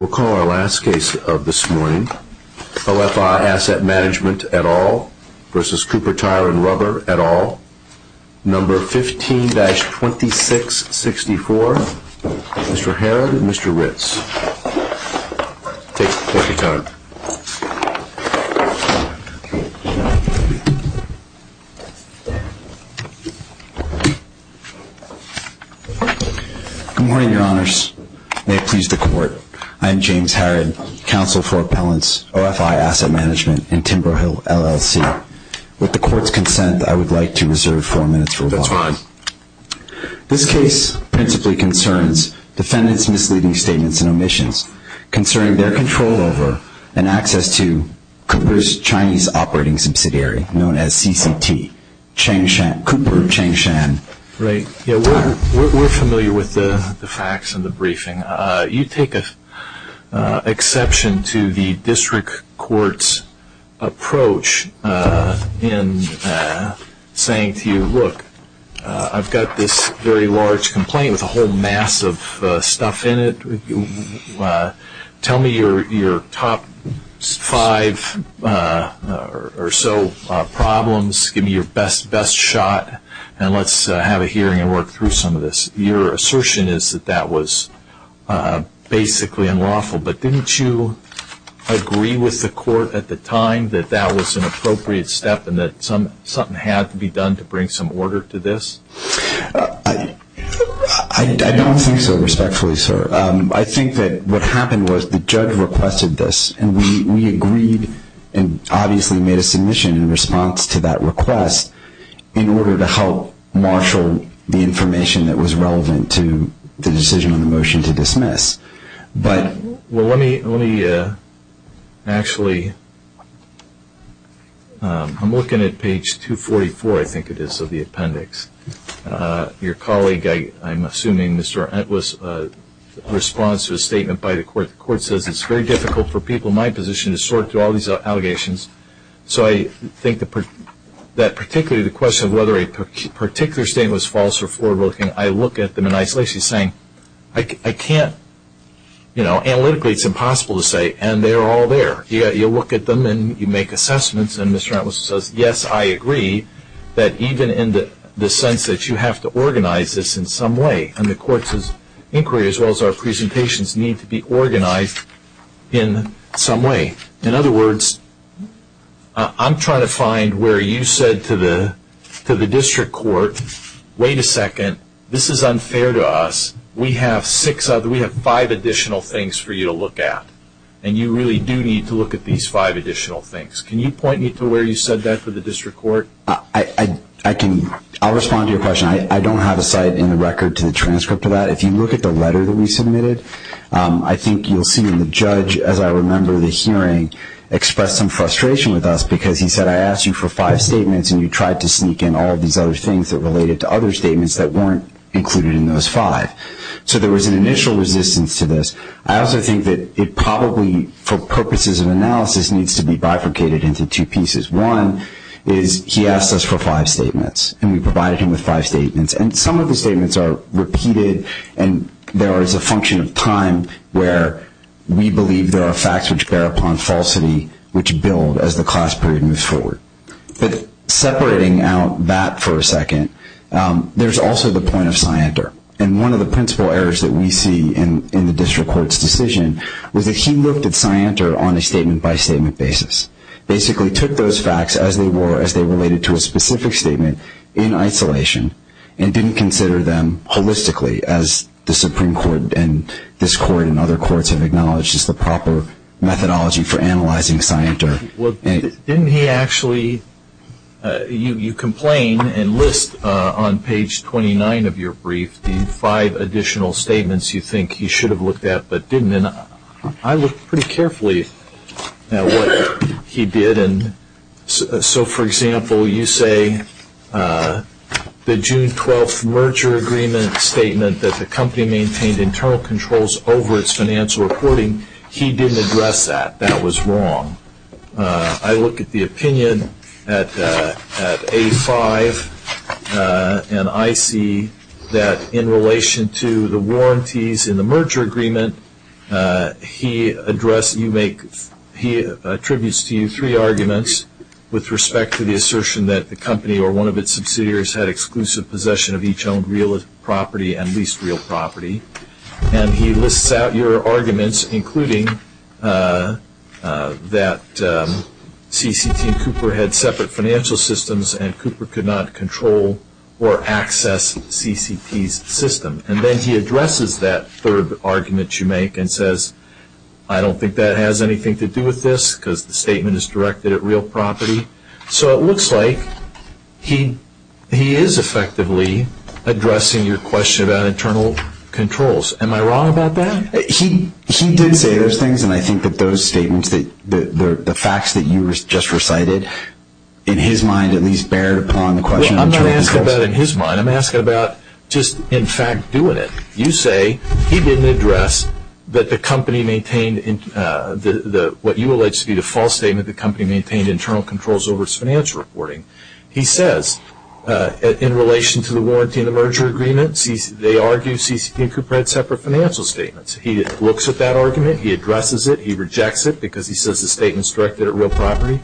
We'll call our last case of this morning, OFI Asset Management et al. v. Cooper Tireand Rubber et al., No. 15-2664, Mr. Herrod and Mr. Ritz. Take the floor, Your Honor. Good morning, Your Honors. May it please the Court. I am James Herrod, Counsel for Appellants, OFI Asset Management, and Timberhill, LLC. With the Court's consent, I would like to reserve four minutes for rebuttal. This case principally concerns defendants' misleading statements and omissions concerning their control over and access to Cooper's Chinese operating subsidiary, known as CCT, Cooper Changshan. We're familiar with the facts in the briefing. You take an exception to the District Court's approach in saying to you, look, I've got this very large complaint with a whole mass of stuff in it. Tell me your top five or so problems, give me your best shot, and let's have a hearing and work through some of this. Your assertion is that that was basically unlawful, but didn't you agree with the Court at the time that that was an appropriate step and that something had to be done to bring some order to this? I don't think so, respectfully, sir. I think that what happened was the judge requested this, and we agreed and obviously made a submission in response to that request in order to help marshal the information that was relevant to the decision on the motion to dismiss. Well, let me actually, I'm looking at page 244, I think it is, of the appendix. Your colleague, I'm assuming Mr. Entwist, responds to a statement by the Court. The Court says it's very difficult for people in my position to sort through all these allegations. So I think that particularly the question of whether a particular statement was false or forward looking, I look at them in isolation saying I can't, you know, analytically it's impossible to say, and they're all there. You look at them and you make assessments and Mr. Entwist says, yes, I agree that even in the sense that you have to organize this in some way, and the Court's inquiry as well as our presentations need to be organized in some way. In other words, I'm trying to find where you said to the District Court, wait a second, this is unfair to us. We have five additional things for you to look at, and you really do need to look at these five additional things. Can you point me to where you said that for the District Court? I'll respond to your question. I don't have a site in the record to the transcript of that. If you look at the letter that we submitted, I think you'll see in the judge, as I remember the hearing, expressed some frustration with us because he said I asked you for five statements and you tried to sneak in all of these other things that related to other statements that weren't included in those five. So there was an initial resistance to this. I also think that it probably for purposes of analysis needs to be bifurcated into two pieces. One is he asked us for five statements, and we provided him with five statements. And some of the statements are repeated and there is a function of time where we believe there are facts which bear upon falsity which build as the class period moves forward. But separating out that for a second, there's also the point of Scianter. And one of the principal errors that we see in the District Court's decision was that he looked at Scianter on a statement by statement basis. Basically took those facts as they were as they related to a specific statement in isolation and didn't consider them holistically as the Supreme Court and this Court and other courts have acknowledged is the proper methodology for analyzing Scianter. Well, didn't he actually, you complain and list on page 29 of your brief the five additional statements you think he should have looked at but didn't. And I looked pretty carefully at what he did. And so, for example, you say the June 12th merger agreement statement that the company maintained internal controls over its financial reporting. He didn't address that. That was wrong. I look at the opinion at A5 and I see that in relation to the warranties in the merger agreement. He attributes to you three arguments with respect to the assertion that the company or one of its subsidiaries had exclusive possession of each owned real property and least real property. And he lists out your arguments including that CCT Cooper had separate financial systems and Cooper could not control or access CCT's system. And then he addresses that third argument you make and says, I don't think that has anything to do with this because the statement is directed at real property. So it looks like he is effectively addressing your question about internal controls. Am I wrong about that? He did say those things and I think that those statements, the facts that you just recited in his mind at least bear upon the question of internal controls. I'm not asking about in his mind. I'm asking about just in fact doing it. You say he didn't address that the company maintained what you alleged to be the false statement that the company maintained internal controls over its financial reporting. He says in relation to the warrantee in the merger agreement, they argue CCT Cooper had separate financial statements. He looks at that argument. He addresses it. He rejects it because he says the statement is directed at real property.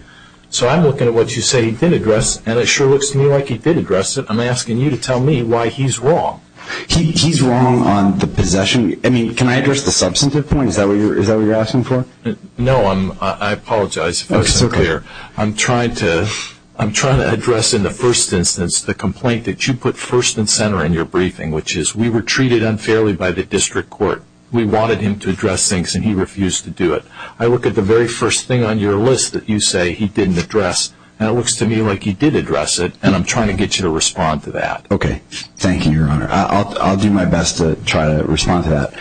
So I'm looking at what you say he did address and it sure looks to me like he did address it. I'm asking you to tell me why he's wrong. He's wrong on the possession. I mean, can I address the substantive point? Is that what you're asking for? No, I apologize. I'm trying to address in the first instance the complaint that you put first and center in your briefing, which is we were treated unfairly by the district court. We wanted him to address things and he refused to do it. I look at the very first thing on your list that you say he didn't address and it looks to me like he did address it and I'm trying to get you to respond to that. Okay. Thank you, Your Honor. I'll do my best to try to respond to that.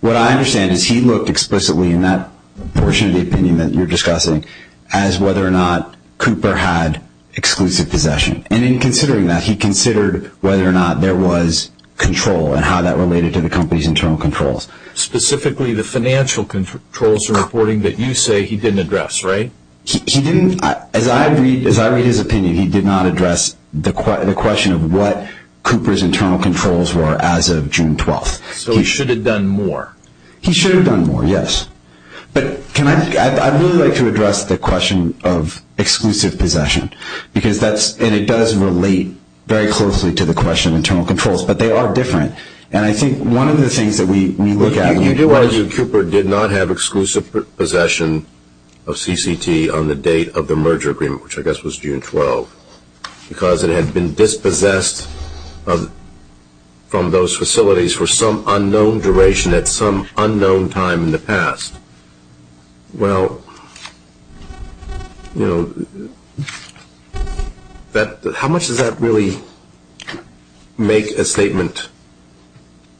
What I understand is he looked explicitly in that portion of the opinion that you're discussing as whether or not Cooper had exclusive possession. And in considering that, he considered whether or not there was control and how that related to the company's internal controls. Specifically, the financial controls reporting that you say he didn't address, right? He didn't. As I read his opinion, he did not address the question of what Cooper's internal controls were as of June 12th. So he should have done more. He should have done more, yes. But I'd really like to address the question of exclusive possession because that's, and it does relate very closely to the question of internal controls, but they are different. And I think one of the things that we look at when you do argue Cooper did not have exclusive possession of CCT on the date of the merger agreement, which I guess was June 12th, because it had been dispossessed from those facilities for some unknown duration at some unknown time in the past. Well, you know, that, how much does that really make a statement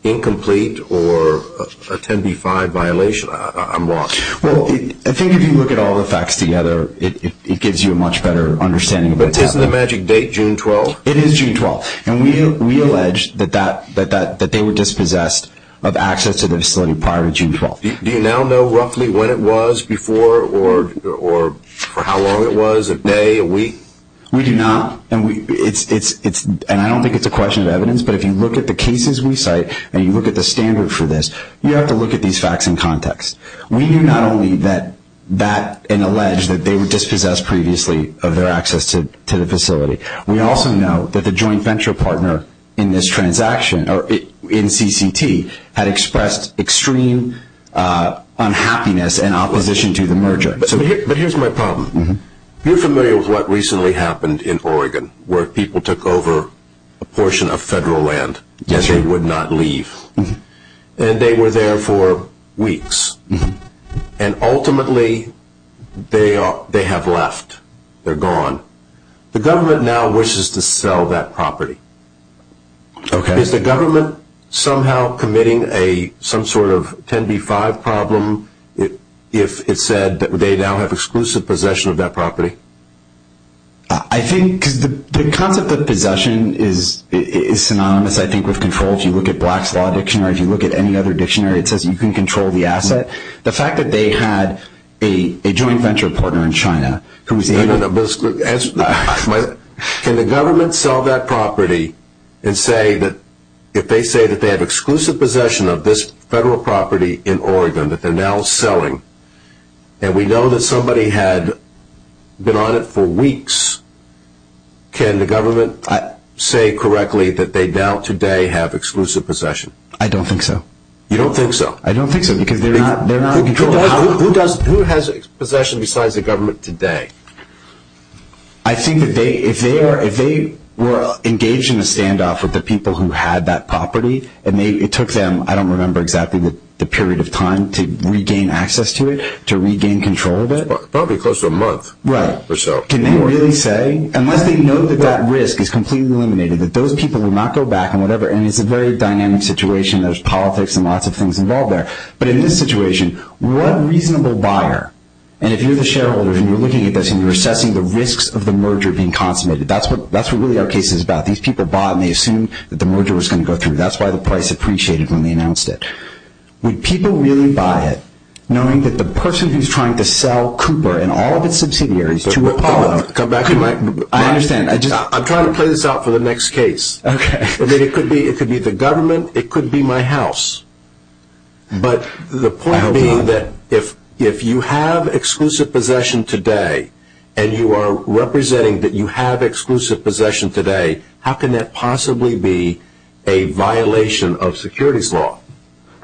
incomplete or a 10b-5 violation? I'm lost. Well, I think if you look at all the facts together, it gives you a much better understanding of what happened. But isn't the magic date June 12th? It is June 12th. And we allege that they were dispossessed of access to the facility prior to June 12th. Do you now know roughly when it was before or for how long it was, a day, a week? We do not. And I don't think it's a question of evidence, but if you look at the cases we cite and you look at the standard for this, you have to look at these facts in context. We knew not only that, and allege that they were dispossessed previously of their access to the facility. We also know that the joint venture partner in this transaction, or in CCT, had expressed extreme unhappiness and opposition to the merger. But here's my problem. You're familiar with what recently happened in Oregon, where people took over a portion of federal land that they would not leave. And they were there for weeks. And ultimately, they have left. They're gone. The government now wishes to sell that property. Is the government somehow committing some sort of 10b-5 problem if it said that they now have exclusive possession of that property? I think, because the concept of possession is synonymous, I think, with control. If you look at Black's Law Dictionary, if you look at any other dictionary, it says you can control the asset. The fact that they had a joint venture partner in China who was able to... Can the government sell that property and say that, if they say that they have exclusive possession of this federal property in Oregon that they're now selling, and we know that somebody had been on it for weeks, can the government say correctly that they now, today, have exclusive possession? I don't think so. You don't think so? I don't think so, because they're not in control of the property. Who has exclusive possession besides the government today? I think that if they were engaged in a standoff with the people who had that property, and it took them, I don't remember exactly the period of time, to regain access to it, to regain control of it? Probably close to a month or so. Can they really say, unless they know that that risk is completely eliminated, that those people will not go back and whatever, and it's a very dynamic situation, there's politics and lots of things involved there. But in this situation, what reasonable buyer, and if you're the shareholder and you're looking at this and you're assessing the risks of the merger being consummated, that's what really our case is about. These people bought it and they assumed that the merger was going to go through. That's why the price appreciated when they announced it. Would people really buy it, knowing that the person who's trying to sell Cooper and all of its subsidiaries to Republican... Hold on. Come back to my... I understand. I just... I'm trying to play this out for the next case. Okay. I mean, it could be the government, it could be my house. But the point being that if you have exclusive possession today, and you are representing that you have exclusive possession today, how can that possibly be a violation of securities law?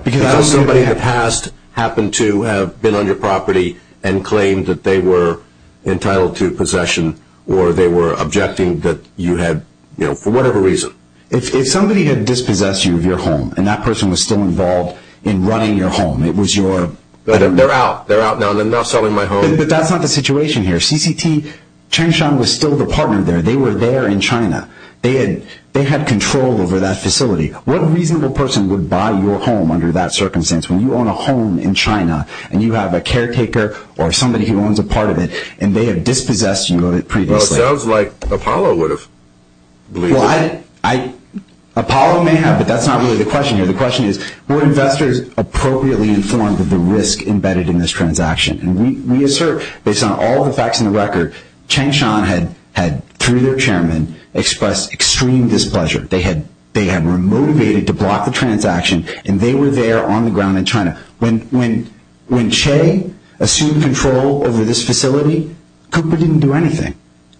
Because that's somebody that has happened to have been on your property and claimed that they were entitled to possession, or they were objecting that you had, you know, for whatever reason. If somebody had dispossessed you of your home, and that person was still involved in running your home, it was your... They're out. They're out now. They're now selling my home. But that's not the situation here. CCT, Changshan was still the partner there. They were there in China. They had control over that facility. What reasonable person would buy your home under that circumstance, when you own a home in China, and you have a caretaker or somebody who owns a part of it, and they have dispossessed you of it previously? Well, it sounds like Apollo would have believed it. Well, I... Apollo may have, but that's not really the question here. The question is, were investors appropriately informed of the risk embedded in this transaction? And we assert, based on all the facts in the record, Changshan had, through their chairman, expressed extreme displeasure. They had... They had... Were motivated to block the transaction, and they were there on the ground in China. When Che assumed control over this facility, Cooper didn't do anything.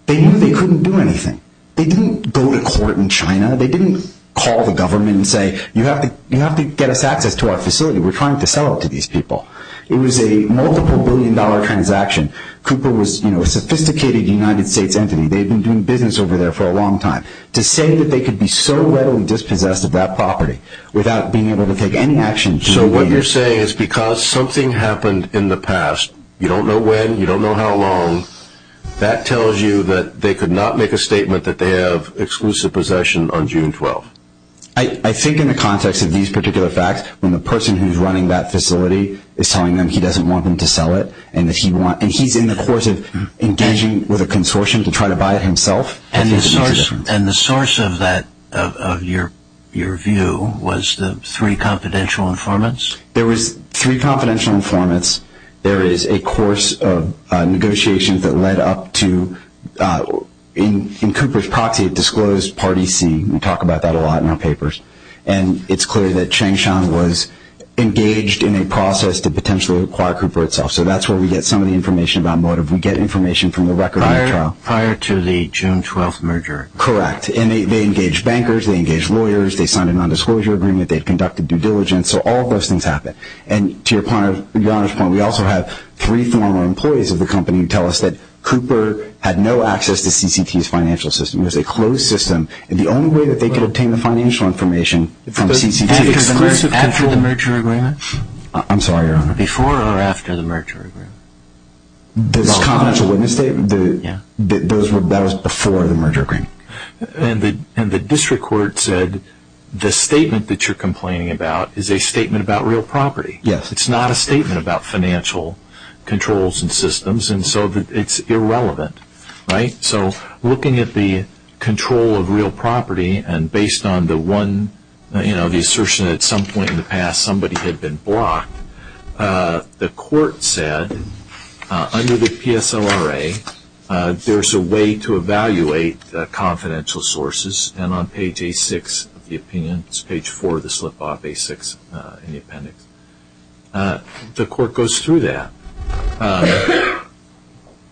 They knew they couldn't do anything. They didn't go to court in China. They didn't call the government and say, you have to... You have to get us access to our facility. We're trying to sell it to these people. It was a multiple billion dollar transaction. Cooper was, you know, a sophisticated United States entity. They'd been doing business over there for a long time. To say that they could be so readily dispossessed of that property, without being able to take any action... So what you're saying is, because something happened in the past, you don't know when, you don't know how long, that tells you that they could not make a statement that they have exclusive possession on June 12th? I... I think in the context of these particular facts, when the person who's running that facility is telling them he doesn't want them to sell it, and that he want... and he's in the course of engaging with a consortium to try to buy it himself. And the source... and the source of that... of your... your view was the three confidential informants? There was three confidential informants. There is a course of negotiations that led up to... in Cooper's proxy, a disclosed Party C. We talk about that a lot in our papers. And it's clear that Changshan was engaged in a process to potentially acquire Cooper itself. So that's where we get some of the information about motive. We get information from the record on the trial. Prior to the June 12th merger? Correct. And they engaged bankers, they engaged lawyers, they signed a nondisclosure agreement, they conducted due diligence. So all of those things happened. And to your point, your honest point, we also have three former employees of the company who tell us that Cooper had no access to CCT's financial system. It was a closed system. And the only way that they could obtain the financial information from CCT was through the merger agreement? I'm sorry, Your Honor. Before or after the merger agreement? The confidential witness statement? Yeah. That was before the merger agreement. And the district court said the statement that you're complaining about is a statement about real property. Yes. It's not a statement about financial controls and systems. And so it's irrelevant. Right? So looking at the control of real property and based on the one, you know, the assertion at some point in the past somebody had been blocked, the court said under the PSLRA there's a way to evaluate confidential sources. And on page A6 of the opinion, it's page 4 of the slip-off, A6 in the appendix, the court goes through that.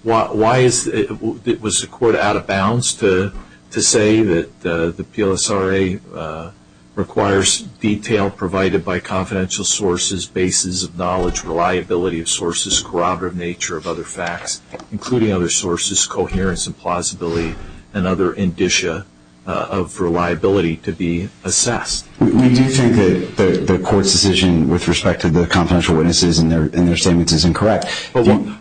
Why is it? Was the court out of bounds to say that the PLSRA requires detail provided by confidential sources, basis of knowledge, reliability of sources, corroborative nature of other facts, including other sources, coherence and plausibility, and other indicia of reliability to be assessed? We do think that the court's decision with respect to the confidential witnesses and their statements is incorrect.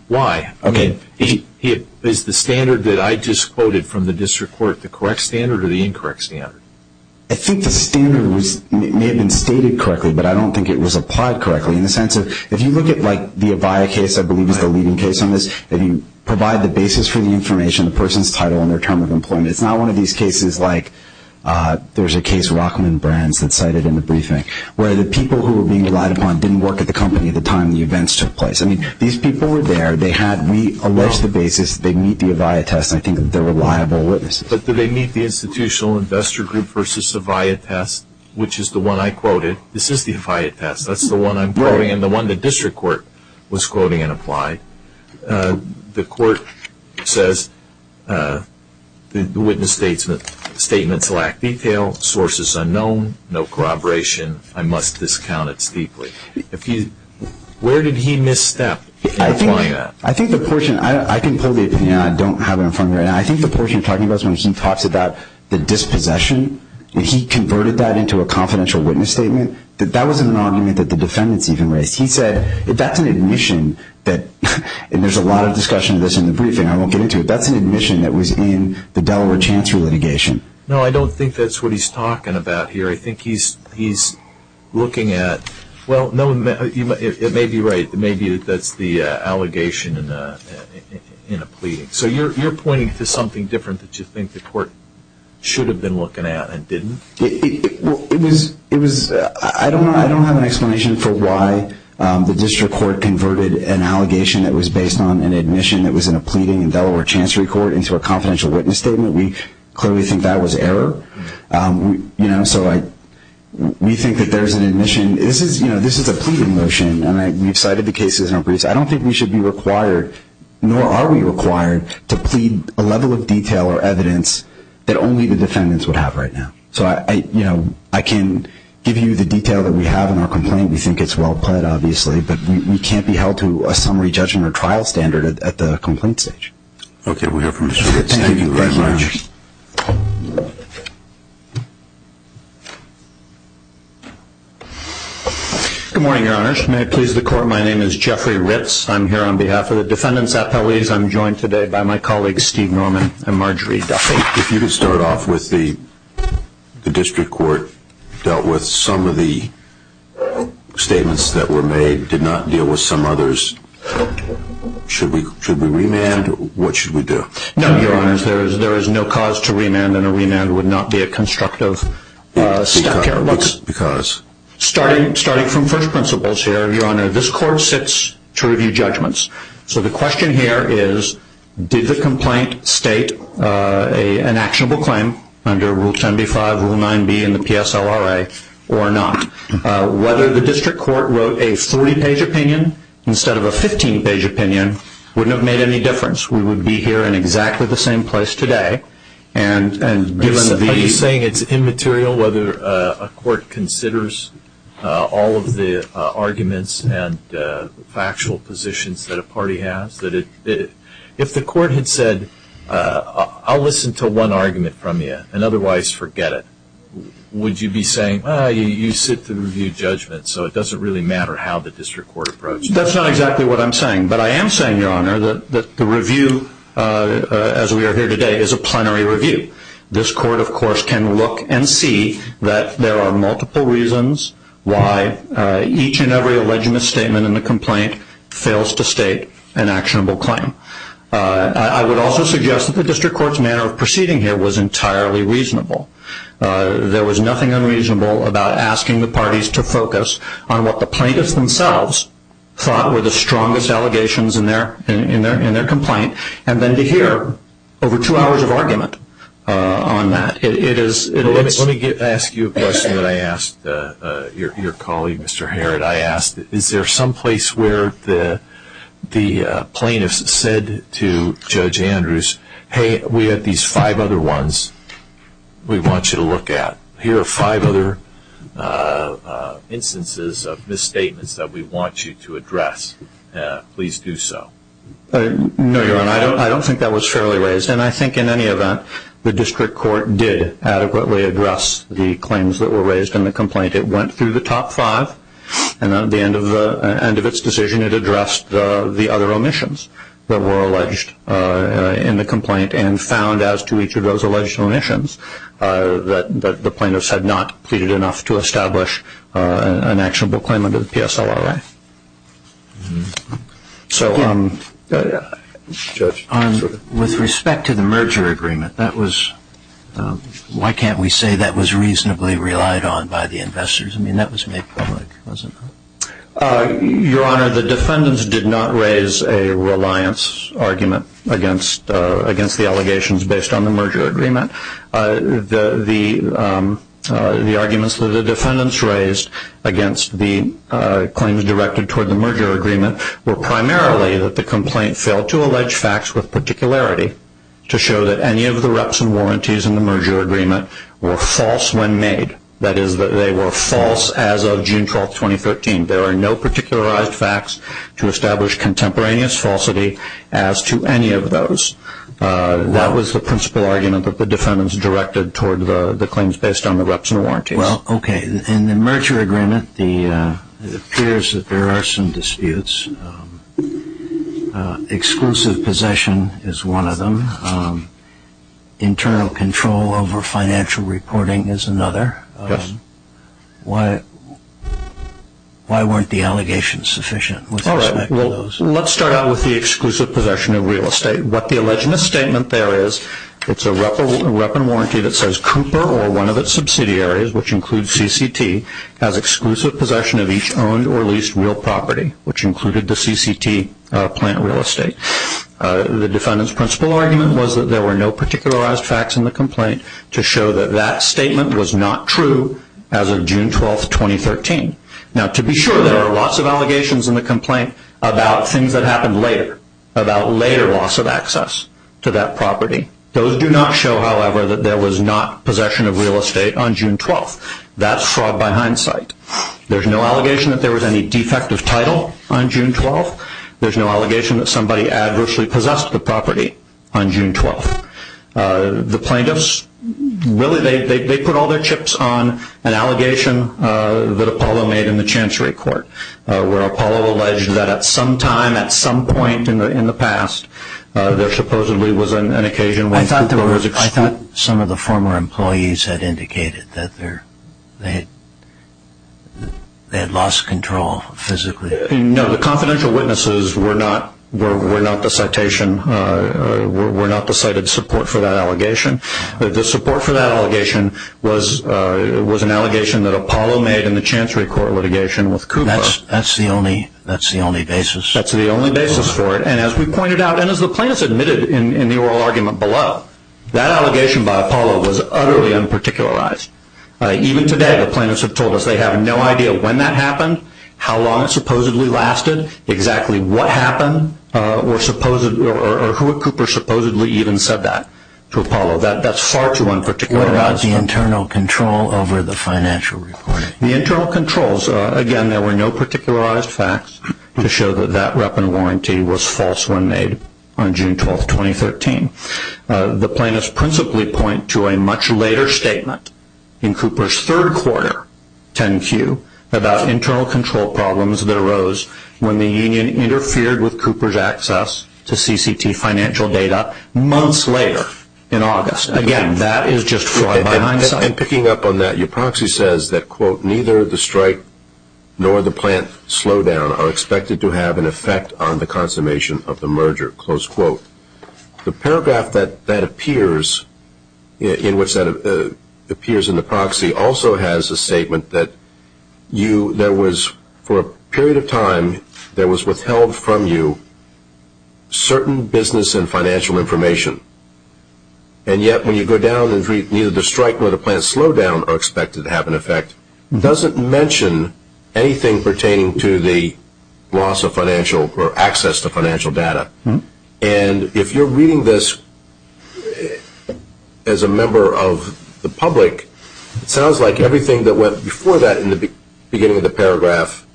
Why? Okay. Is the standard that I just quoted from the district court the correct standard or the incorrect standard? I think the standard may have been stated correctly, but I don't think it was applied correctly in the sense of if you look at like the Avaya case, I believe is the leading case on this, that you provide the basis for the information, the person's title and their term of employment. It's not one of these cases like there's a case Rockman Brands that cited in the briefing where the people who were being relied upon didn't work at the company at the time the events took place. I mean, these people were there, they had, we alleged the basis, they meet the Avaya test, and I think they're reliable witnesses. But do they meet the institutional investor group versus Avaya test, which is the one I quoted? This is the Avaya test. That's the one I'm quoting and the one the district court was quoting and applied. The court says the witness statements lack detail, sources unknown, no corroboration. I must discount it steeply. If you, where did he misstep in applying that? I think the portion, I can pull the opinion, I don't have it in front of me right now. I think the portion you're talking about is when he talks about the dispossession. He converted that into a confidential witness statement. That wasn't an argument that the defendants even raised. He said that's an admission that, and there's a lot of discussion of this in the briefing, I won't get into it, that's an admission that was in the Delaware Chancery litigation. No, I don't think that's what he's talking about here. I think he's looking at, well, no, it may be right, maybe that's the allegation in a pleading. So you're pointing to something different that you think the court should have been looking at and didn't? It was, I don't know, I don't have an explanation for why the district court converted an allegation that was based on an admission that was in a pleading in Delaware Chancery Court into a confidential witness statement. We clearly think that was error. So we think that there's an admission. This is a pleading motion, and we've cited the cases in our briefs. I don't think we should be required, nor are we required, to plead a level of detail or evidence that only the defendants would have right now. So I can give you the detail that we have in our complaint. We think it's well pled, obviously, but we can't be held to a summary judgment or trial standard at the complaint stage. Okay, we have Mr. Ritz. Thank you very much. Good morning, Your Honors. May it please the court, my name is Jeffrey Ritz. I'm here on behalf of the defendants' appellees. I'm joined today by my colleagues Steve Norman and Marjorie Duffy. If you could start off with the district court dealt with some of the statements that were made. No, Your Honors, there is no cause to remand, and a remand would not be a constructive step here. Because? Starting from first principles here, Your Honor, this court sits to review judgments. So the question here is, did the complaint state an actionable claim under Rule 10b-5, Rule 9b, and the PSLRA, or not? Whether the district court wrote a 40-page opinion instead of a 15-page opinion wouldn't have made any difference. We would be here in exactly the same place today. Are you saying it's immaterial whether a court considers all of the arguments and factual positions that a party has? If the court had said, I'll listen to one argument from you, and otherwise forget it, would you be saying, well, you sit to review judgments, so it doesn't really matter how the district court approached it? That's not exactly what I'm saying. But I am saying, Your Honor, that the review, as we are here today, is a plenary review. This court, of course, can look and see that there are multiple reasons why each and every alleged misstatement in the complaint fails to state an actionable claim. I would also suggest that the district court's manner of proceeding here was entirely reasonable. There was nothing unreasonable about asking the parties to focus on what the plaintiffs themselves thought were the strongest allegations in their complaint, and then to hear over two hours of argument on that. Let me ask you a question that I asked your colleague, Mr. Harrod. I asked, is there someplace where the plaintiffs said to Judge Andrews, hey, we have these five other ones we want you to look at. Here are five other instances of misstatements that we want you to address. Please do so. No, Your Honor. I don't think that was fairly raised. And I think in any event, the district court did adequately address the claims that were raised in the complaint. It went through the top five, and at the end of its decision, it addressed the other omissions that were that the plaintiffs had not pleaded enough to establish an actionable claim under the PSLRA. With respect to the merger agreement, that was, why can't we say that was reasonably relied on by the investors? I mean, that was made public, wasn't it? Your Honor, the defendants did not raise a reliance argument against the allegations based on the merger agreement. The arguments that the defendants raised against the claims directed toward the merger agreement were primarily that the complaint failed to allege facts with particularity to show that any of the reps and warranties in the merger agreement were false when made. That is, that they were false as of June 12, 2013. There are no particularized facts to establish contemporaneous falsity as to any of those. That was the principal argument that the defendants directed toward the claims based on the reps and warranties. Well, okay. In the merger agreement, it appears that there are some disputes. Exclusive possession is one of them. Internal control over financial reporting is another. Yes. Why weren't the allegations sufficient with respect to those? Let's start out with the exclusive possession of real estate. What the alleged misstatement there is, it's a rep and warranty that says Cooper or one of its subsidiaries, which includes CCT, has exclusive possession of each owned or leased real property, which included the CCT plant real estate. The defendant's principal argument was that there were no particularized facts in the complaint to show that that statement was not true as of June 12, 2013. To be sure, there are lots of allegations in the complaint about things that happened later, about later loss of access to that property. Those do not show, however, that there was not possession of real estate on June 12. That's fraud by hindsight. There's no allegation that there was any defect of title on June 12. There's no allegation that somebody adversely possessed the property on June 12. The plaintiffs, really, they put all their chips on an allegation that Apollo made in the Chancery Court, where Apollo alleged that at some time, at some point in the past, there supposedly was an occasion when Cooper was exposed. I thought some of the former employees had indicated that they had lost control physically. No, the confidential witnesses were not the citation, were not the cited support for that allegation. The support for that allegation was an allegation that Apollo made in the Chancery Court litigation with Cooper. That's the only basis. That's the only basis for it. As we pointed out, and as the plaintiffs admitted in the oral argument below, that allegation by Apollo was utterly unparticularized. Even today, the plaintiffs have told us they have no idea when that happened, how long it supposedly lasted, exactly what happened, or who Cooper supposedly even said that to Apollo. That's far too unparticularized. What about the internal control over the financial reporting? The internal controls, again, there were no particularized facts to show that that rep and warranty was false when made on June 12, 2013. The plaintiffs principally point to a much later statement in Cooper's third quarter, 10-Q, about internal control problems that arose when the union interfered with Cooper's access to CCT financial data months later in August. Again, that is just flawed by hindsight. And picking up on that, your proxy says that, quote, neither the strike nor the plant slowdown are expected to have an effect on the consummation of the merger, close quote. The paragraph that appears in the proxy also has a statement that for a period of time there was withheld from you certain business and financial information. And yet when you go down and read neither the strike nor the plant slowdown are expected to have an effect, it doesn't mention anything pertaining to the loss of financial or access to financial data. And if you're reading this as a member of the public, it sounds like everything that went before that in the beginning of the paragraph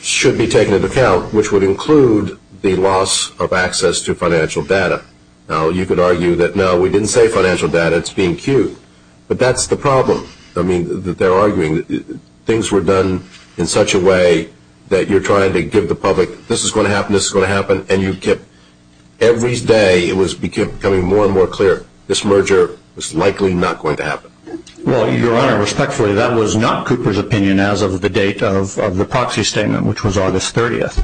should be taken into account, which would include the loss of access to financial data. Now, you could argue that, no, we didn't say financial data, it's being queued. But that's the problem. I mean, they're arguing that things were done in such a way that you're trying to give the public, this is going to happen, this is going to happen, and you kept, every day it was becoming more and more clear, this merger was likely not going to happen. Well, your honor, respectfully, that was not the date of the proxy statement, which was August 30th.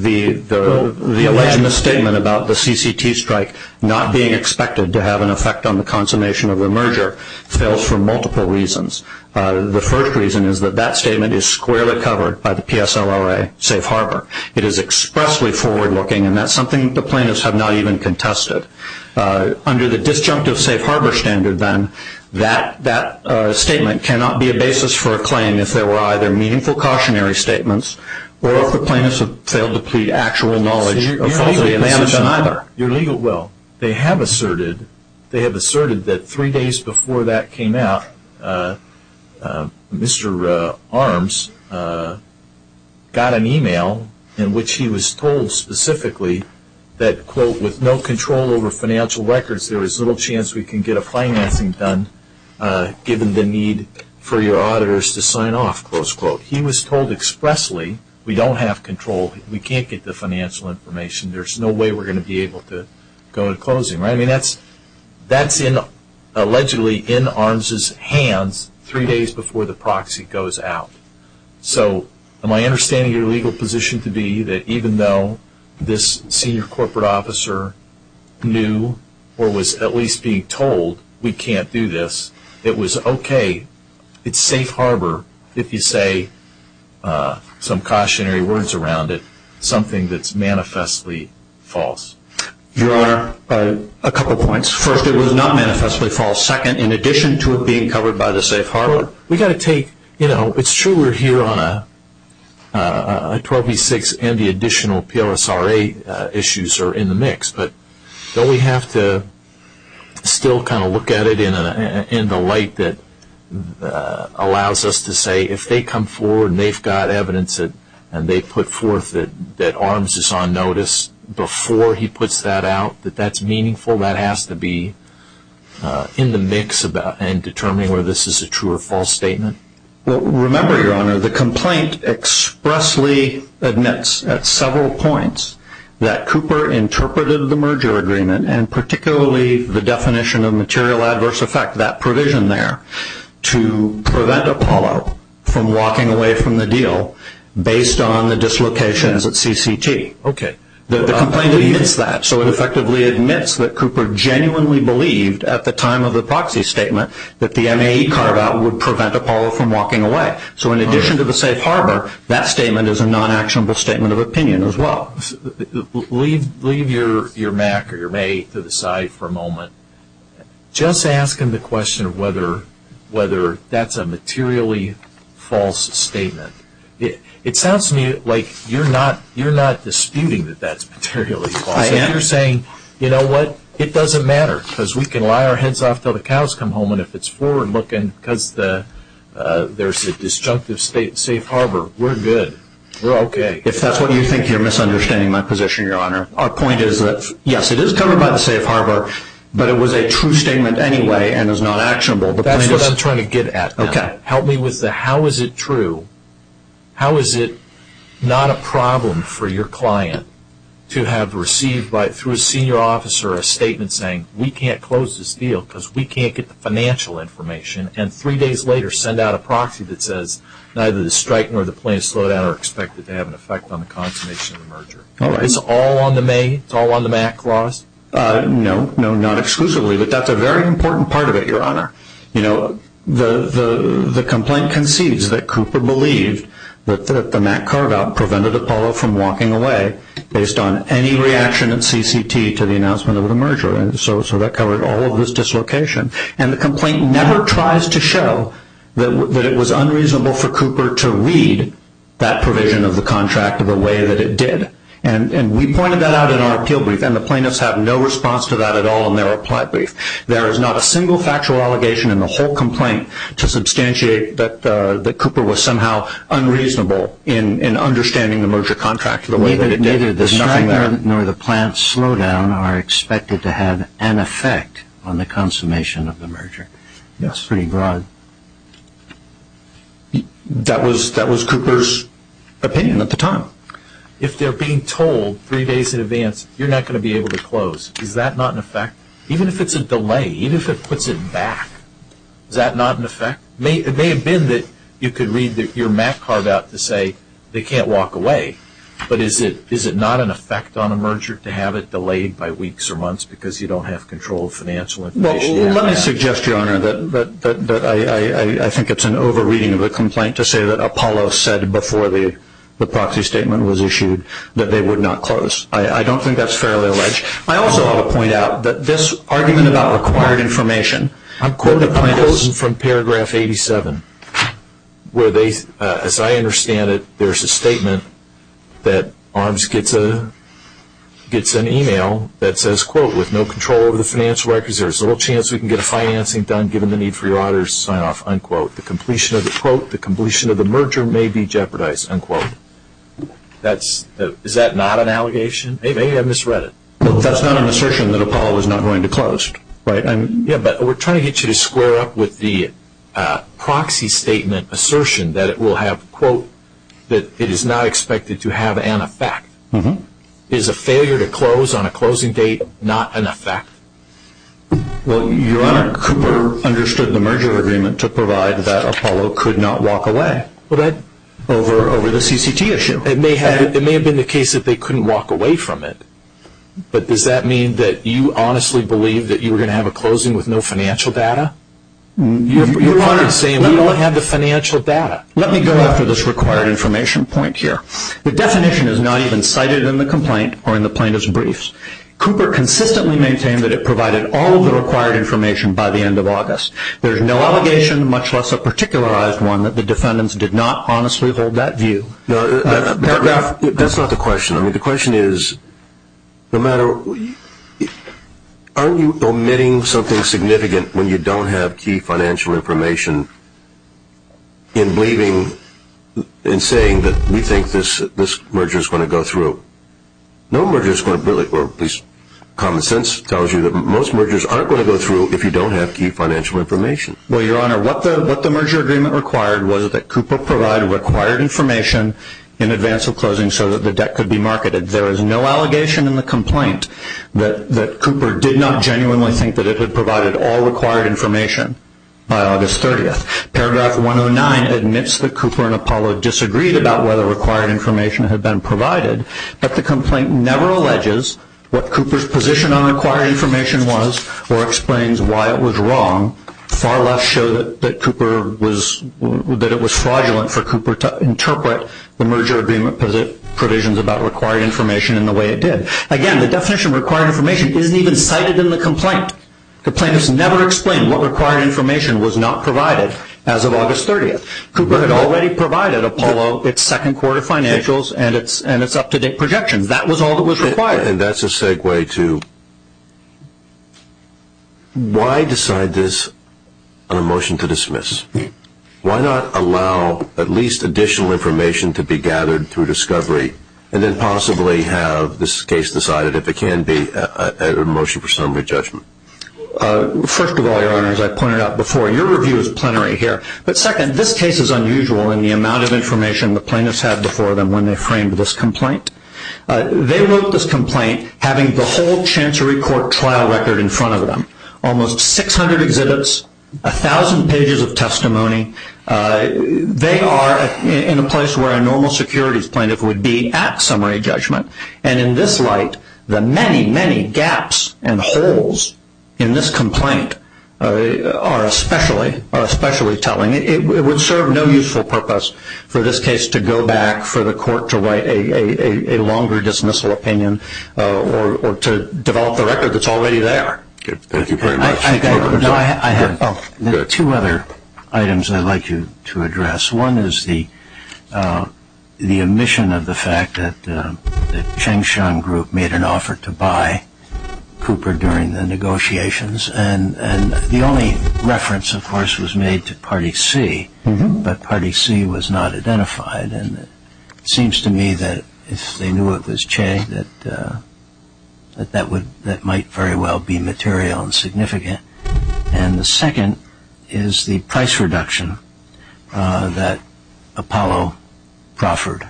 The alleged misstatement about the CCT strike not being expected to have an effect on the consummation of the merger fails for multiple reasons. The first reason is that that statement is squarely covered by the PSLRA safe harbor. It is expressly forward looking and that's something the plaintiffs have not even contested. Under the disjunctive safe harbor standard then, that statement cannot be a basis for a claim if there were either meaningful cautionary statements or if the plaintiffs have failed to plead actual knowledge of faulty management. Your legal, well, they have asserted, they have asserted that three days before that came out, Mr. Arms got an email in which he was told specifically that, quote, with no control over financial records, there is little chance we can get a financing done given the need for your auditors to sign off, close quote. He was told expressly, we don't have control, we can't get the financial information, there's no way we're going to be able to go to closing. I mean, that's in, allegedly, in Arms' hands three days before the proxy goes out. So, my understanding of your legal position to be that even though this senior it's safe harbor, if you say some cautionary words around it, something that's manifestly false. Your Honor, a couple points. First, it was not manifestly false. Second, in addition to it being covered by the safe harbor, we've got to take, you know, it's true we're here on a 12V6 and the additional PLSRA issues are in the mix, but don't we have to still kind of look at it in the light that allows us to say if they come forward and they've got evidence and they put forth that Arms is on notice before he puts that out, that that's meaningful, that has to be in the mix and determining whether this is a true or false statement? Remember, Your Honor, the complaint expressly admits at several points that Cooper interpreted the merger agreement and particularly the definition of material adverse effect, that provision there, to prevent Apollo from walking away from the deal based on the dislocations at CCT. Okay. The complaint admits that. So, it effectively admits that Cooper genuinely believed at the time of the proxy statement that the MAE carve-out would prevent Apollo from walking away. So, in addition to the safe harbor, that statement is a non-actionable statement of opinion as well. Leave your MAE to the side for a moment. Just ask him the question of whether that's a materially false statement. It sounds to me like you're not disputing that that's materially false. You're saying, you know what, it doesn't matter because we can lie our heads off until the cows come home and if it's forward looking because there's a disjunctive safe harbor, we're good. We're okay. If that's what you think, you're misunderstanding my position, Your Honor. Our point is that, yes, it is covered by the safe harbor, but it was a true statement anyway and is not actionable. That's what I'm trying to get at. Help me with the how is it true? How is it not a problem for your client to have received through a senior officer a statement saying, we can't close this deal because we can't get the financial information and three days later send out a proxy that says neither the strike nor the plan to slow down are expected to have an effect on the consummation of the merger. It's all on the MAE? It's all on the MAC clause? No, not exclusively, but that's a very important part of it, Your Honor. The complaint concedes that Cooper believed that the MAC carve-out prevented Apollo from walking away based on any reaction at CCT to the announcement of the merger. So that covered all of this dislocation. And the complaint never tries to show that it was unreasonable for Cooper to read that provision of the contract the way that it did. And we pointed that out in our appeal brief and the plaintiffs have no response to that at all in their reply brief. There is not a single factual allegation in the whole complaint to substantiate that Cooper was somehow unreasonable in understanding the merger contract. Neither the strike nor the plan to slow down are expected to have an effect on the consummation of the merger. That's pretty broad. That was Cooper's opinion at the time. If they're being told three days in advance you're not going to be able to close, is that not an effect? Even if it's a delay, even if it puts it back, is that not an effect? It may have been that you could read your MAC carve-out to say they can't walk away, but is it not an effect on a merger to have it delayed by weeks or months because you don't have control of financial information? Well, let me suggest, Your Honor, that I think it's an over-reading of the complaint to say that Apollo said before the proxy statement was issued that they would not close. I don't think that's fairly alleged. I also want to point out that this argument about required information, I'm quoting from paragraph 87, where they, as I understand it, there's a statement that ARMS gets an email that says, quote, with no control over the financial records, there's little chance we can get a financing done given the need for your honor's sign-off, unquote. The completion of the quote, the completion of the merger may be jeopardized, unquote. Is that not an allegation? Maybe I misread it. That's not an assertion that Apollo is not going to close, right? Yeah, we're trying to get you to square up with the proxy statement assertion that it will have, quote, that it is not expected to have an effect. Is a failure to close on a closing date not an effect? Well, Your Honor, Cooper understood the merger agreement to provide that Apollo could not walk away over the CCT issue. It may have been the case that they couldn't walk away from it, but does that mean that you honestly believe that you were going to have a closing with no financial data? Your Honor, we don't have the financial data. Let me go after this required information point here. The definition is not even cited in the complaint or in the plaintiff's briefs. Cooper consistently maintained that it provided all of the required information by the end of August. There's no allegation, much less a particularized one, that the defendants did not honestly hold that view. That's not the question. I mean, the question is, no matter, aren't you omitting something significant when you don't have key financial information in believing, in saying that we think this merger is going to go through? No merger is going to really, or at least common sense tells you that most mergers aren't going to go through if you don't have key financial information. Well, Your Honor, what the merger agreement required was that Cooper provided required information in advance of closing so that the debt could be marketed. There is no allegation in the complaint that Cooper did not genuinely think that it had provided all required information by August 30th. Paragraph 109 admits that Cooper and Apollo disagreed about whether required information had been provided, but the complaint never alleges what Cooper's position on required information was or explains why it was wrong. Far left that Cooper was, that it was fraudulent for Cooper to interpret the merger agreement provisions about required information in the way it did. Again, the definition of required information isn't even cited in the complaint. The complaint has never explained what required information was not provided as of August 30th. Cooper had already provided Apollo its second quarter financials and its up-to-date projections. That was all that was required. And that's a segue to why decide this on a motion to dismiss? Why not allow at least additional information to be gathered through discovery and then possibly have this case decided if it can be a motion for summary judgment? First of all, Your Honor, as I pointed out before, your review is plenary here. But second, this case is unusual in the amount of information the plaintiffs had before them when they framed this complaint. They wrote this complaint having the whole Chancery Court trial record in front of them, almost 600 exhibits, a thousand pages of testimony. They are in a place where a normal securities plaintiff would be at summary judgment. And in this light, the many, many gaps and holes in this complaint are especially telling. It would serve no useful purpose for this case to go back for the court to write a longer dismissal opinion or to develop the record that's already there. Thank you very much. I have two other items I'd like you to address. One is the omission of the fact that the Changshan Group made an offer to buy Cooper during the negotiations. And the only reference, of course, was made to Party C. But Party C was not identified. And it seems to me that if they knew it was Che, that might very well be material and significant. And the second is the price reduction that Apollo proffered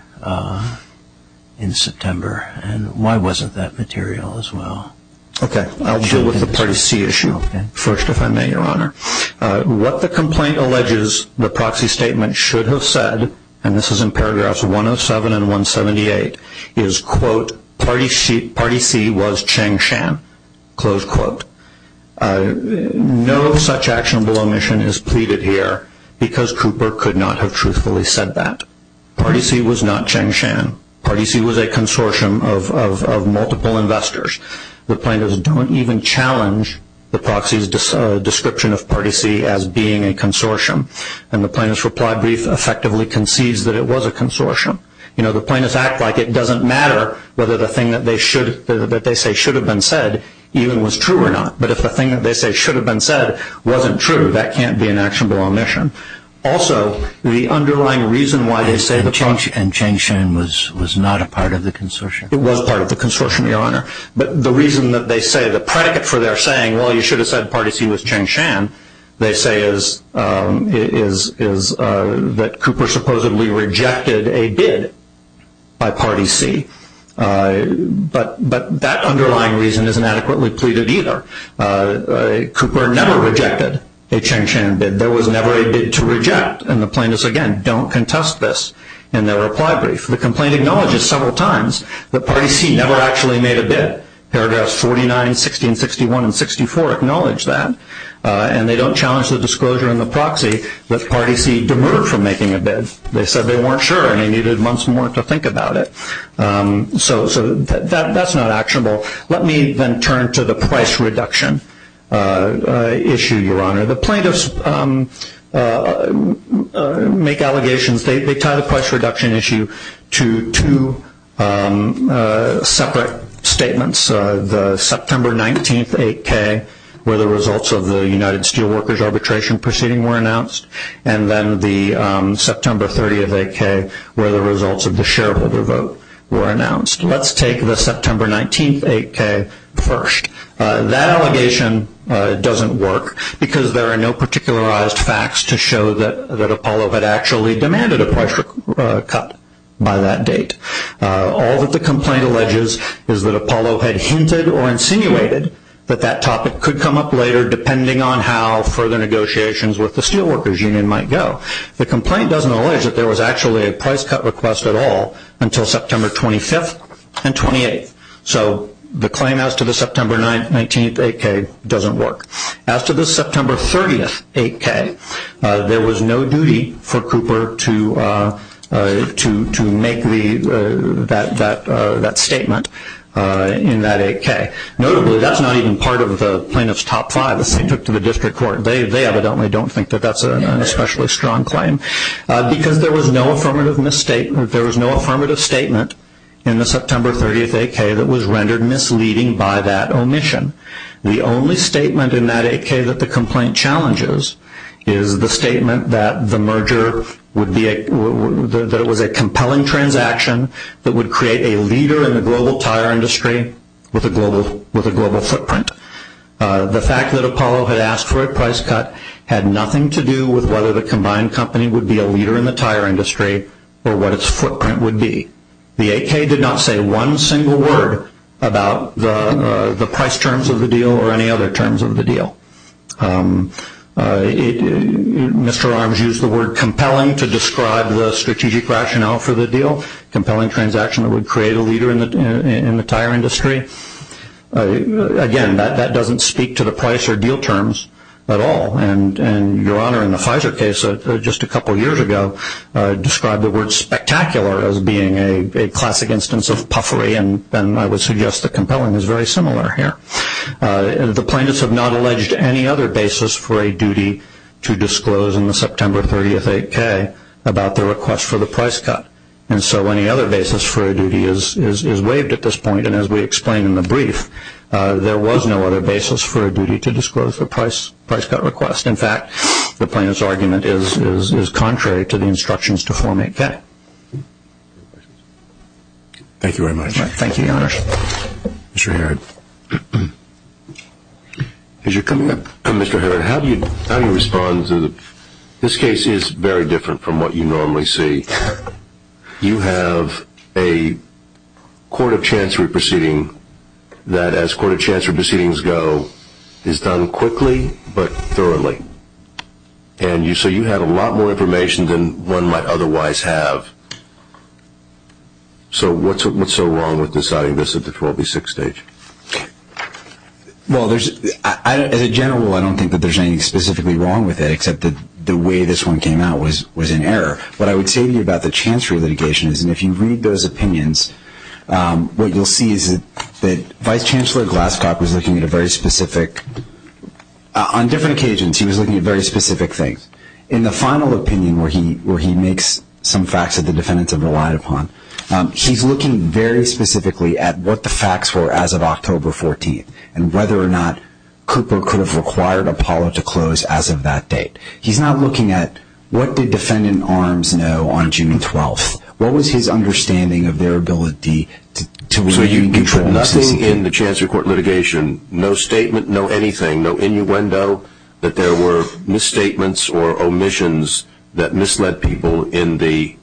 in September. And why wasn't that material as well? Okay. I'll deal with the Party C issue first, if I may, Your Honor. What the complaint alleges the proxy statement should have said, and this is in paragraphs 107 and 178, is, quote, Party C was Changshan, close quote. No such actionable omission is pleaded here because Cooper could not have truthfully said that. Party C was not Changshan. Party C was a consortium of multiple investors. The plaintiffs don't even challenge the proxy's description of Party C as being a consortium. And the plaintiff's reply brief effectively concedes that it was a consortium. You know, the plaintiffs act like it doesn't matter whether the thing that they should, that they say should have been said even was true or not. But if the thing that they say should have been said wasn't true, that can't be an actionable omission. Also, the underlying reason why they say the function. And Changshan was not a part of the consortium. It was part of the consortium, Your Honor. But the reason that they say the predicate for their saying, well, you should have said Party C was Changshan, they say is that Cooper supposedly rejected a bid by Party C. But that underlying reason isn't adequately pleaded either. Cooper never rejected a Changshan bid. There was never a bid to reject. And the plaintiffs, again, don't contest this in their reply brief. The complaint acknowledges several times that Party C never actually made a bid. Paragraphs 49, 16, 61, and 64 acknowledge that. And they don't challenge the disclosure in the proxy that Party C demurred from making a bid. They said they weren't sure and they needed months more to think about it. So that's not actionable. Let me then turn to the price reduction issue, Your Honor. The plaintiffs make allegations. They tie the price reduction issue to two separate statements. The September 19th 8K, where the results of the United Steelworkers arbitration proceeding were announced. And then the September 30th 8K, where the results of the shareholder vote were announced. Let's take the September 19th 8K first. That allegation doesn't work because there are no particularized facts to show that Apollo had actually demanded a price cut by that date. All that the complaint alleges is that Apollo had hinted or insinuated that that topic could come up later depending on how further negotiations with the Steelworkers Union might go. The complaint doesn't allege that there was actually a price cut request at all until September 25th and 28th. So the claim as to the September 19th 8K doesn't work. As to the September 30th 8K, there was no duty for Cooper to make that statement in that 8K. Notably, that's not even part of the plaintiff's top five, as they took to the district court. They evidently don't think that that's an especially strong claim because there was no affirmative statement in the September 30th 8K that was rendered misleading by that omission. The only statement in that 8K that the complaint challenges is the statement that the merger would be a, that it was a compelling transaction that would create a leader in the global tire industry with a global footprint. The fact that Apollo had asked for a price cut had nothing to do with whether the combined company would be a leader in the tire industry or what its footprint would be. The 8K did not say one single word about the price terms of the deal or any other terms of the deal. Mr. Arms used the word compelling to describe the strategic rationale for the deal, compelling transaction that would create a leader in the tire industry. Again, that doesn't speak to the price or deal terms at all. And Your Honor, in the Pfizer case just a couple years ago, described the word spectacular as being a classic instance of the plaintiffs have not alleged any other basis for a duty to disclose in the September 30th 8K about the request for the price cut. And so any other basis for a duty is waived at this point. And as we explained in the brief, there was no other basis for a duty to disclose the price price cut request. In fact, the plaintiff's argument is contrary to the instructions to Form 8K. Thank you very much. Thank you, Your Honor. Mr. Herrod. As you're coming up, Mr. Herrod, how do you, how do you respond to the, this case is very different from what you normally see. You have a court of chancery proceeding that as court of chancery proceedings go is done quickly, but thoroughly. And you, so you have a lot more to say than what the plaintiffs have. So what's, what's so wrong with deciding this at the 12B6 stage? Well, there's, as a general rule, I don't think that there's anything specifically wrong with it, except that the way this one came out was, was in error. What I would say to you about the chancery litigation is, and if you read those opinions, what you'll see is that Vice Chancellor Glasscock was looking at a very specific, on different occasions, he was looking at very facts that the defendants have relied upon. He's looking very specifically at what the facts were as of October 14th, and whether or not Cooper could have required Apollo to close as of that date. He's not looking at what the defendant arms know on June 12th. What was his understanding of their ability to, to really control. Nothing in the chancery court litigation, no statement, no anything, no innuendo that there were misstatements or omissions that misled people in the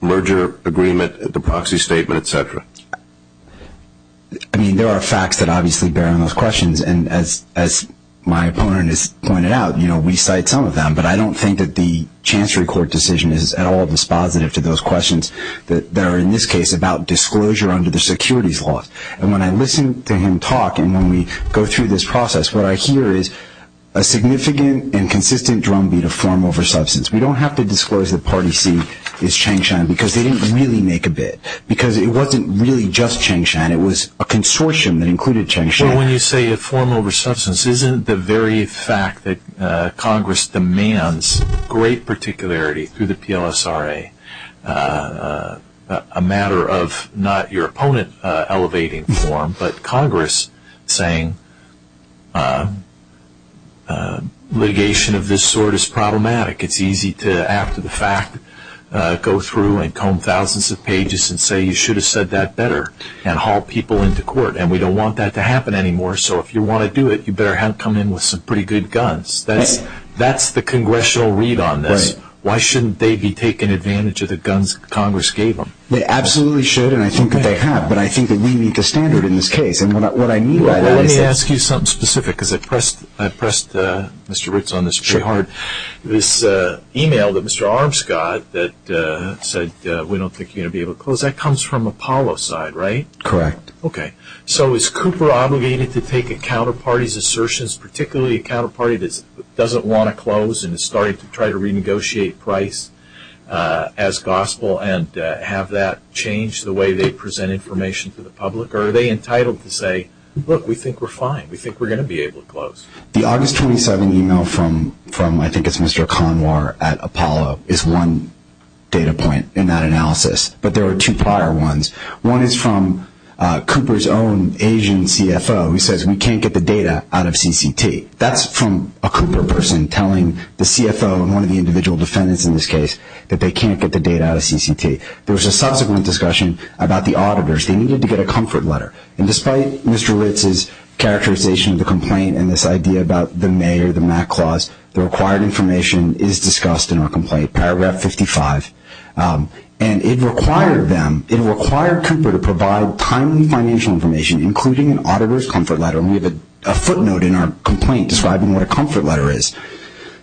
merger agreement, the proxy statement, et cetera. I mean, there are facts that obviously bear on those questions. And as, as my opponent has pointed out, you know, we cite some of them, but I don't think that the chancery court decision is at all dispositive to those questions that there are in this case about disclosure under the securities laws. And when I listened to him talk, and when we go through this process, what I hear is a significant and consistent drumbeat of form over substance. We don't have to disclose that party C is Changshan because they didn't really make a bid because it wasn't really just Changshan. It was a consortium that included Changshan. Well, when you say a form over substance, isn't the very fact that Congress demands great particularity through the PLSRA, a matter of not your opponent elevating form, but Congress saying a litigation of this sort is problematic. It's easy to, after the fact, go through and comb thousands of pages and say, you should have said that better and haul people into court. And we don't want that to happen anymore. So if you want to do it, you better have come in with some pretty good guns. That's, that's the congressional read on this. Why shouldn't they be taken advantage of the guns Congress gave them? They absolutely should. And I think that they have, but I think we need to standard in this case. And what I mean by that is... Let me ask you something specific because I pressed, I pressed Mr. Ritz on this pretty hard. This email that Mr. Armscott said, we don't think you're going to be able to close. That comes from Apollo side, right? Correct. Okay. So is Cooper obligated to take a counterparty's assertions, particularly a counterparty that doesn't want to close and is starting to try to renegotiate price as gospel and have that change the way they present information to the public? Or are they entitled to say, look, we think we're fine. We think we're going to be able to close. The August 27 email from, from, I think it's Mr. Conwar at Apollo is one data point in that analysis, but there were two prior ones. One is from Cooper's own Asian CFO. He says, we can't get the data out of CCT. That's from a Cooper person telling the CFO and one of the individual defendants in this case that they can't get the data out of CCT. There was a subsequent discussion about the auditors. They needed to get a comfort letter. And despite Mr. Ritz's characterization of the complaint and this idea about the mayor, the Mac clause, the required information is discussed in our complaint, paragraph 55. Um, and it required them, it required Cooper to provide timely financial information, including an auditor's comfort letter. And we have a footnote in our complaint describing what a comfort letter is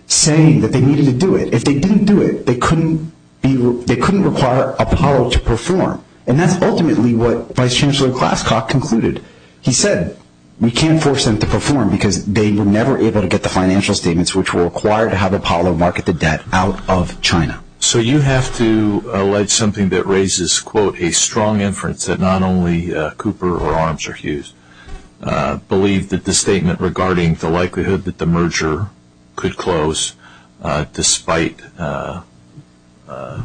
saying that they needed to do it. If they didn't do it, they couldn't be, they couldn't require Apollo to perform. And that's ultimately what Vice Chancellor Klaskoff concluded. He said, we can't force them to perform because they were never able to get the financial statements, which were required to have Apollo market the debt out of China. So you have to allege something that raises quote, a strong inference that not only Cooper or Arms or Hughes, uh, believe that the statement regarding the likelihood that the uh,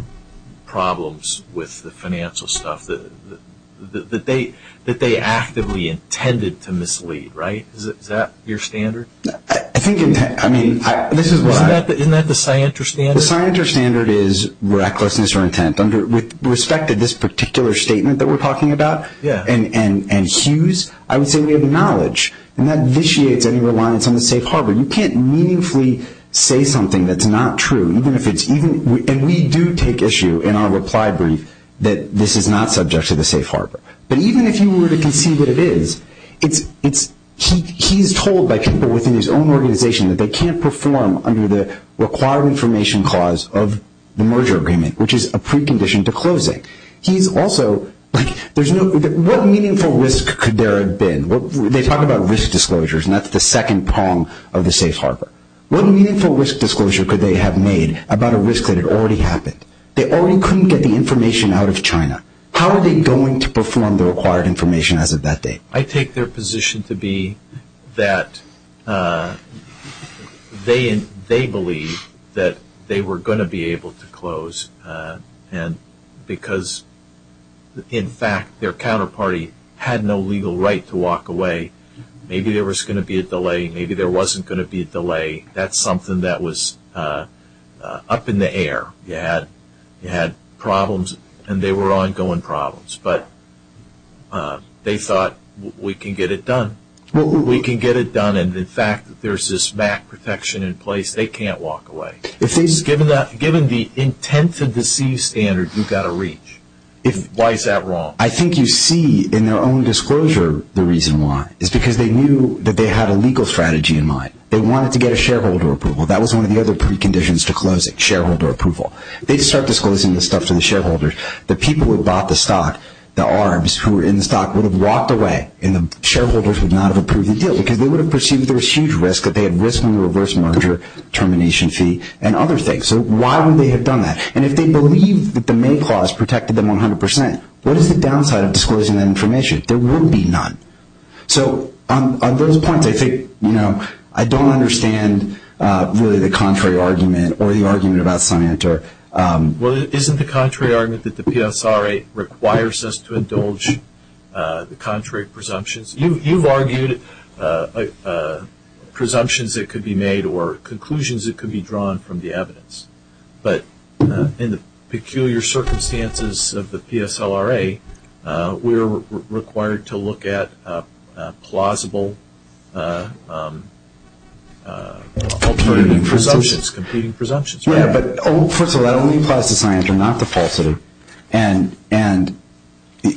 problems with the financial stuff that, that they, that they actively intended to mislead, right? Is that your standard? I think, I mean, isn't that the scienter standard? The scienter standard is recklessness or intent under, with respect to this particular statement that we're talking about and, and, and Hughes, I would say we have knowledge and that vitiates any reliance on the safe harbor. You can't meaningfully say something that's not true, even if it's even, and we do take issue in our reply brief that this is not subject to the safe harbor. But even if you were to concede that it is, it's, it's, he, he's told by people within his own organization that they can't perform under the required information clause of the merger agreement, which is a precondition to closing. He's also like, there's no, what meaningful risk could there have been? Well, they talk about risk disclosures and that's the second prong of the safe harbor. What meaningful risk disclosure could they have made about a risk that had already happened? They already couldn't get the information out of China. How are they going to perform the required information as of that date? I take their position to be that, uh, they, they believe that they were going to be able to close, uh, and because in fact, their counterparty had no legal right to walk away. Maybe there was going to be a delay. Maybe there wasn't going to be a delay. That's something that was, uh, uh, up in the air. You had, you had problems and they were ongoing problems, but, uh, they thought we can get it done. We can get it done. And in fact, there's this back protection in place. They can't walk away. Given that, given the intent to deceive standard, you've got to reach. If, why is that wrong? I think you see in their own disclosure, the reason why is because they knew that they had a legal strategy in mind. They wanted to get a shareholder approval. That was one of the other preconditions to closing shareholder approval. They'd start disclosing the stuff to the shareholders. The people who bought the stock, the arms who were in the stock would have walked away in the shareholders would not have approved the deal because they would have perceived there was huge risk that they had risked on the reverse merger termination fee and other things. So why would they have done that? And if they believe that the May clause protected them 100%, what is the downside of disclosing that information? There will be none. So on those points, I think, you know, I don't understand really the contrary argument or the argument about Scienter. Well, isn't the contrary argument that the PSRA requires us to indulge the contrary presumptions? You've argued presumptions that could be made or conclusions that could be drawn from the evidence. But in the peculiar circumstances of the PSLRA, we're required to look at plausible competing presumptions, right? Yeah, but first of all, that only applies to Scienter, not to Paul Sitter. And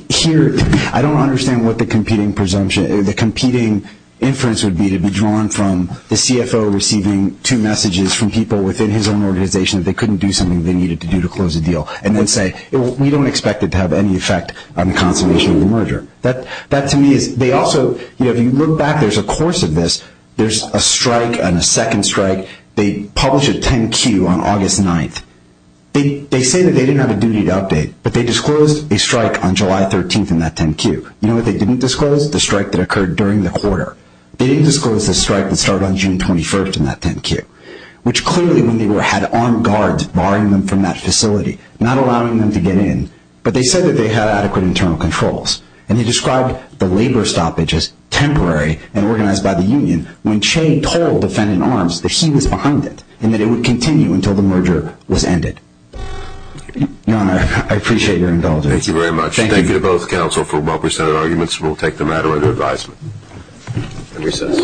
here, I don't understand what the competing presumption, the competing inference would be to be drawn from the CFO receiving two messages from people within his own organization that they couldn't do something they needed to do to close a deal and then say, we don't expect it to have any effect on the consummation of the merger. That to me is, they also, you know, if you look back, there's a course of this. There's a strike and a second strike. They publish a 10-Q on August 9th. They say that they didn't have a duty to update, but they disclosed a strike on July 13th in that 10-Q. You know what they didn't disclose? The strike that occurred during the quarter. They didn't disclose the strike that started on June 21st in that 10-Q, which clearly, when they were, had armed guards barring them from that facility, not allowing them to get in, but they said that they had adequate internal controls. And he described the labor stoppages temporary and organized by the union when Che told defendant arms that he was behind it and that it would continue until the merger was ended. Your Honor, I appreciate your indulgence. Thank you very much. Thank you to both counsel for well-precedented arguments. We'll take the matter under advisement and recess.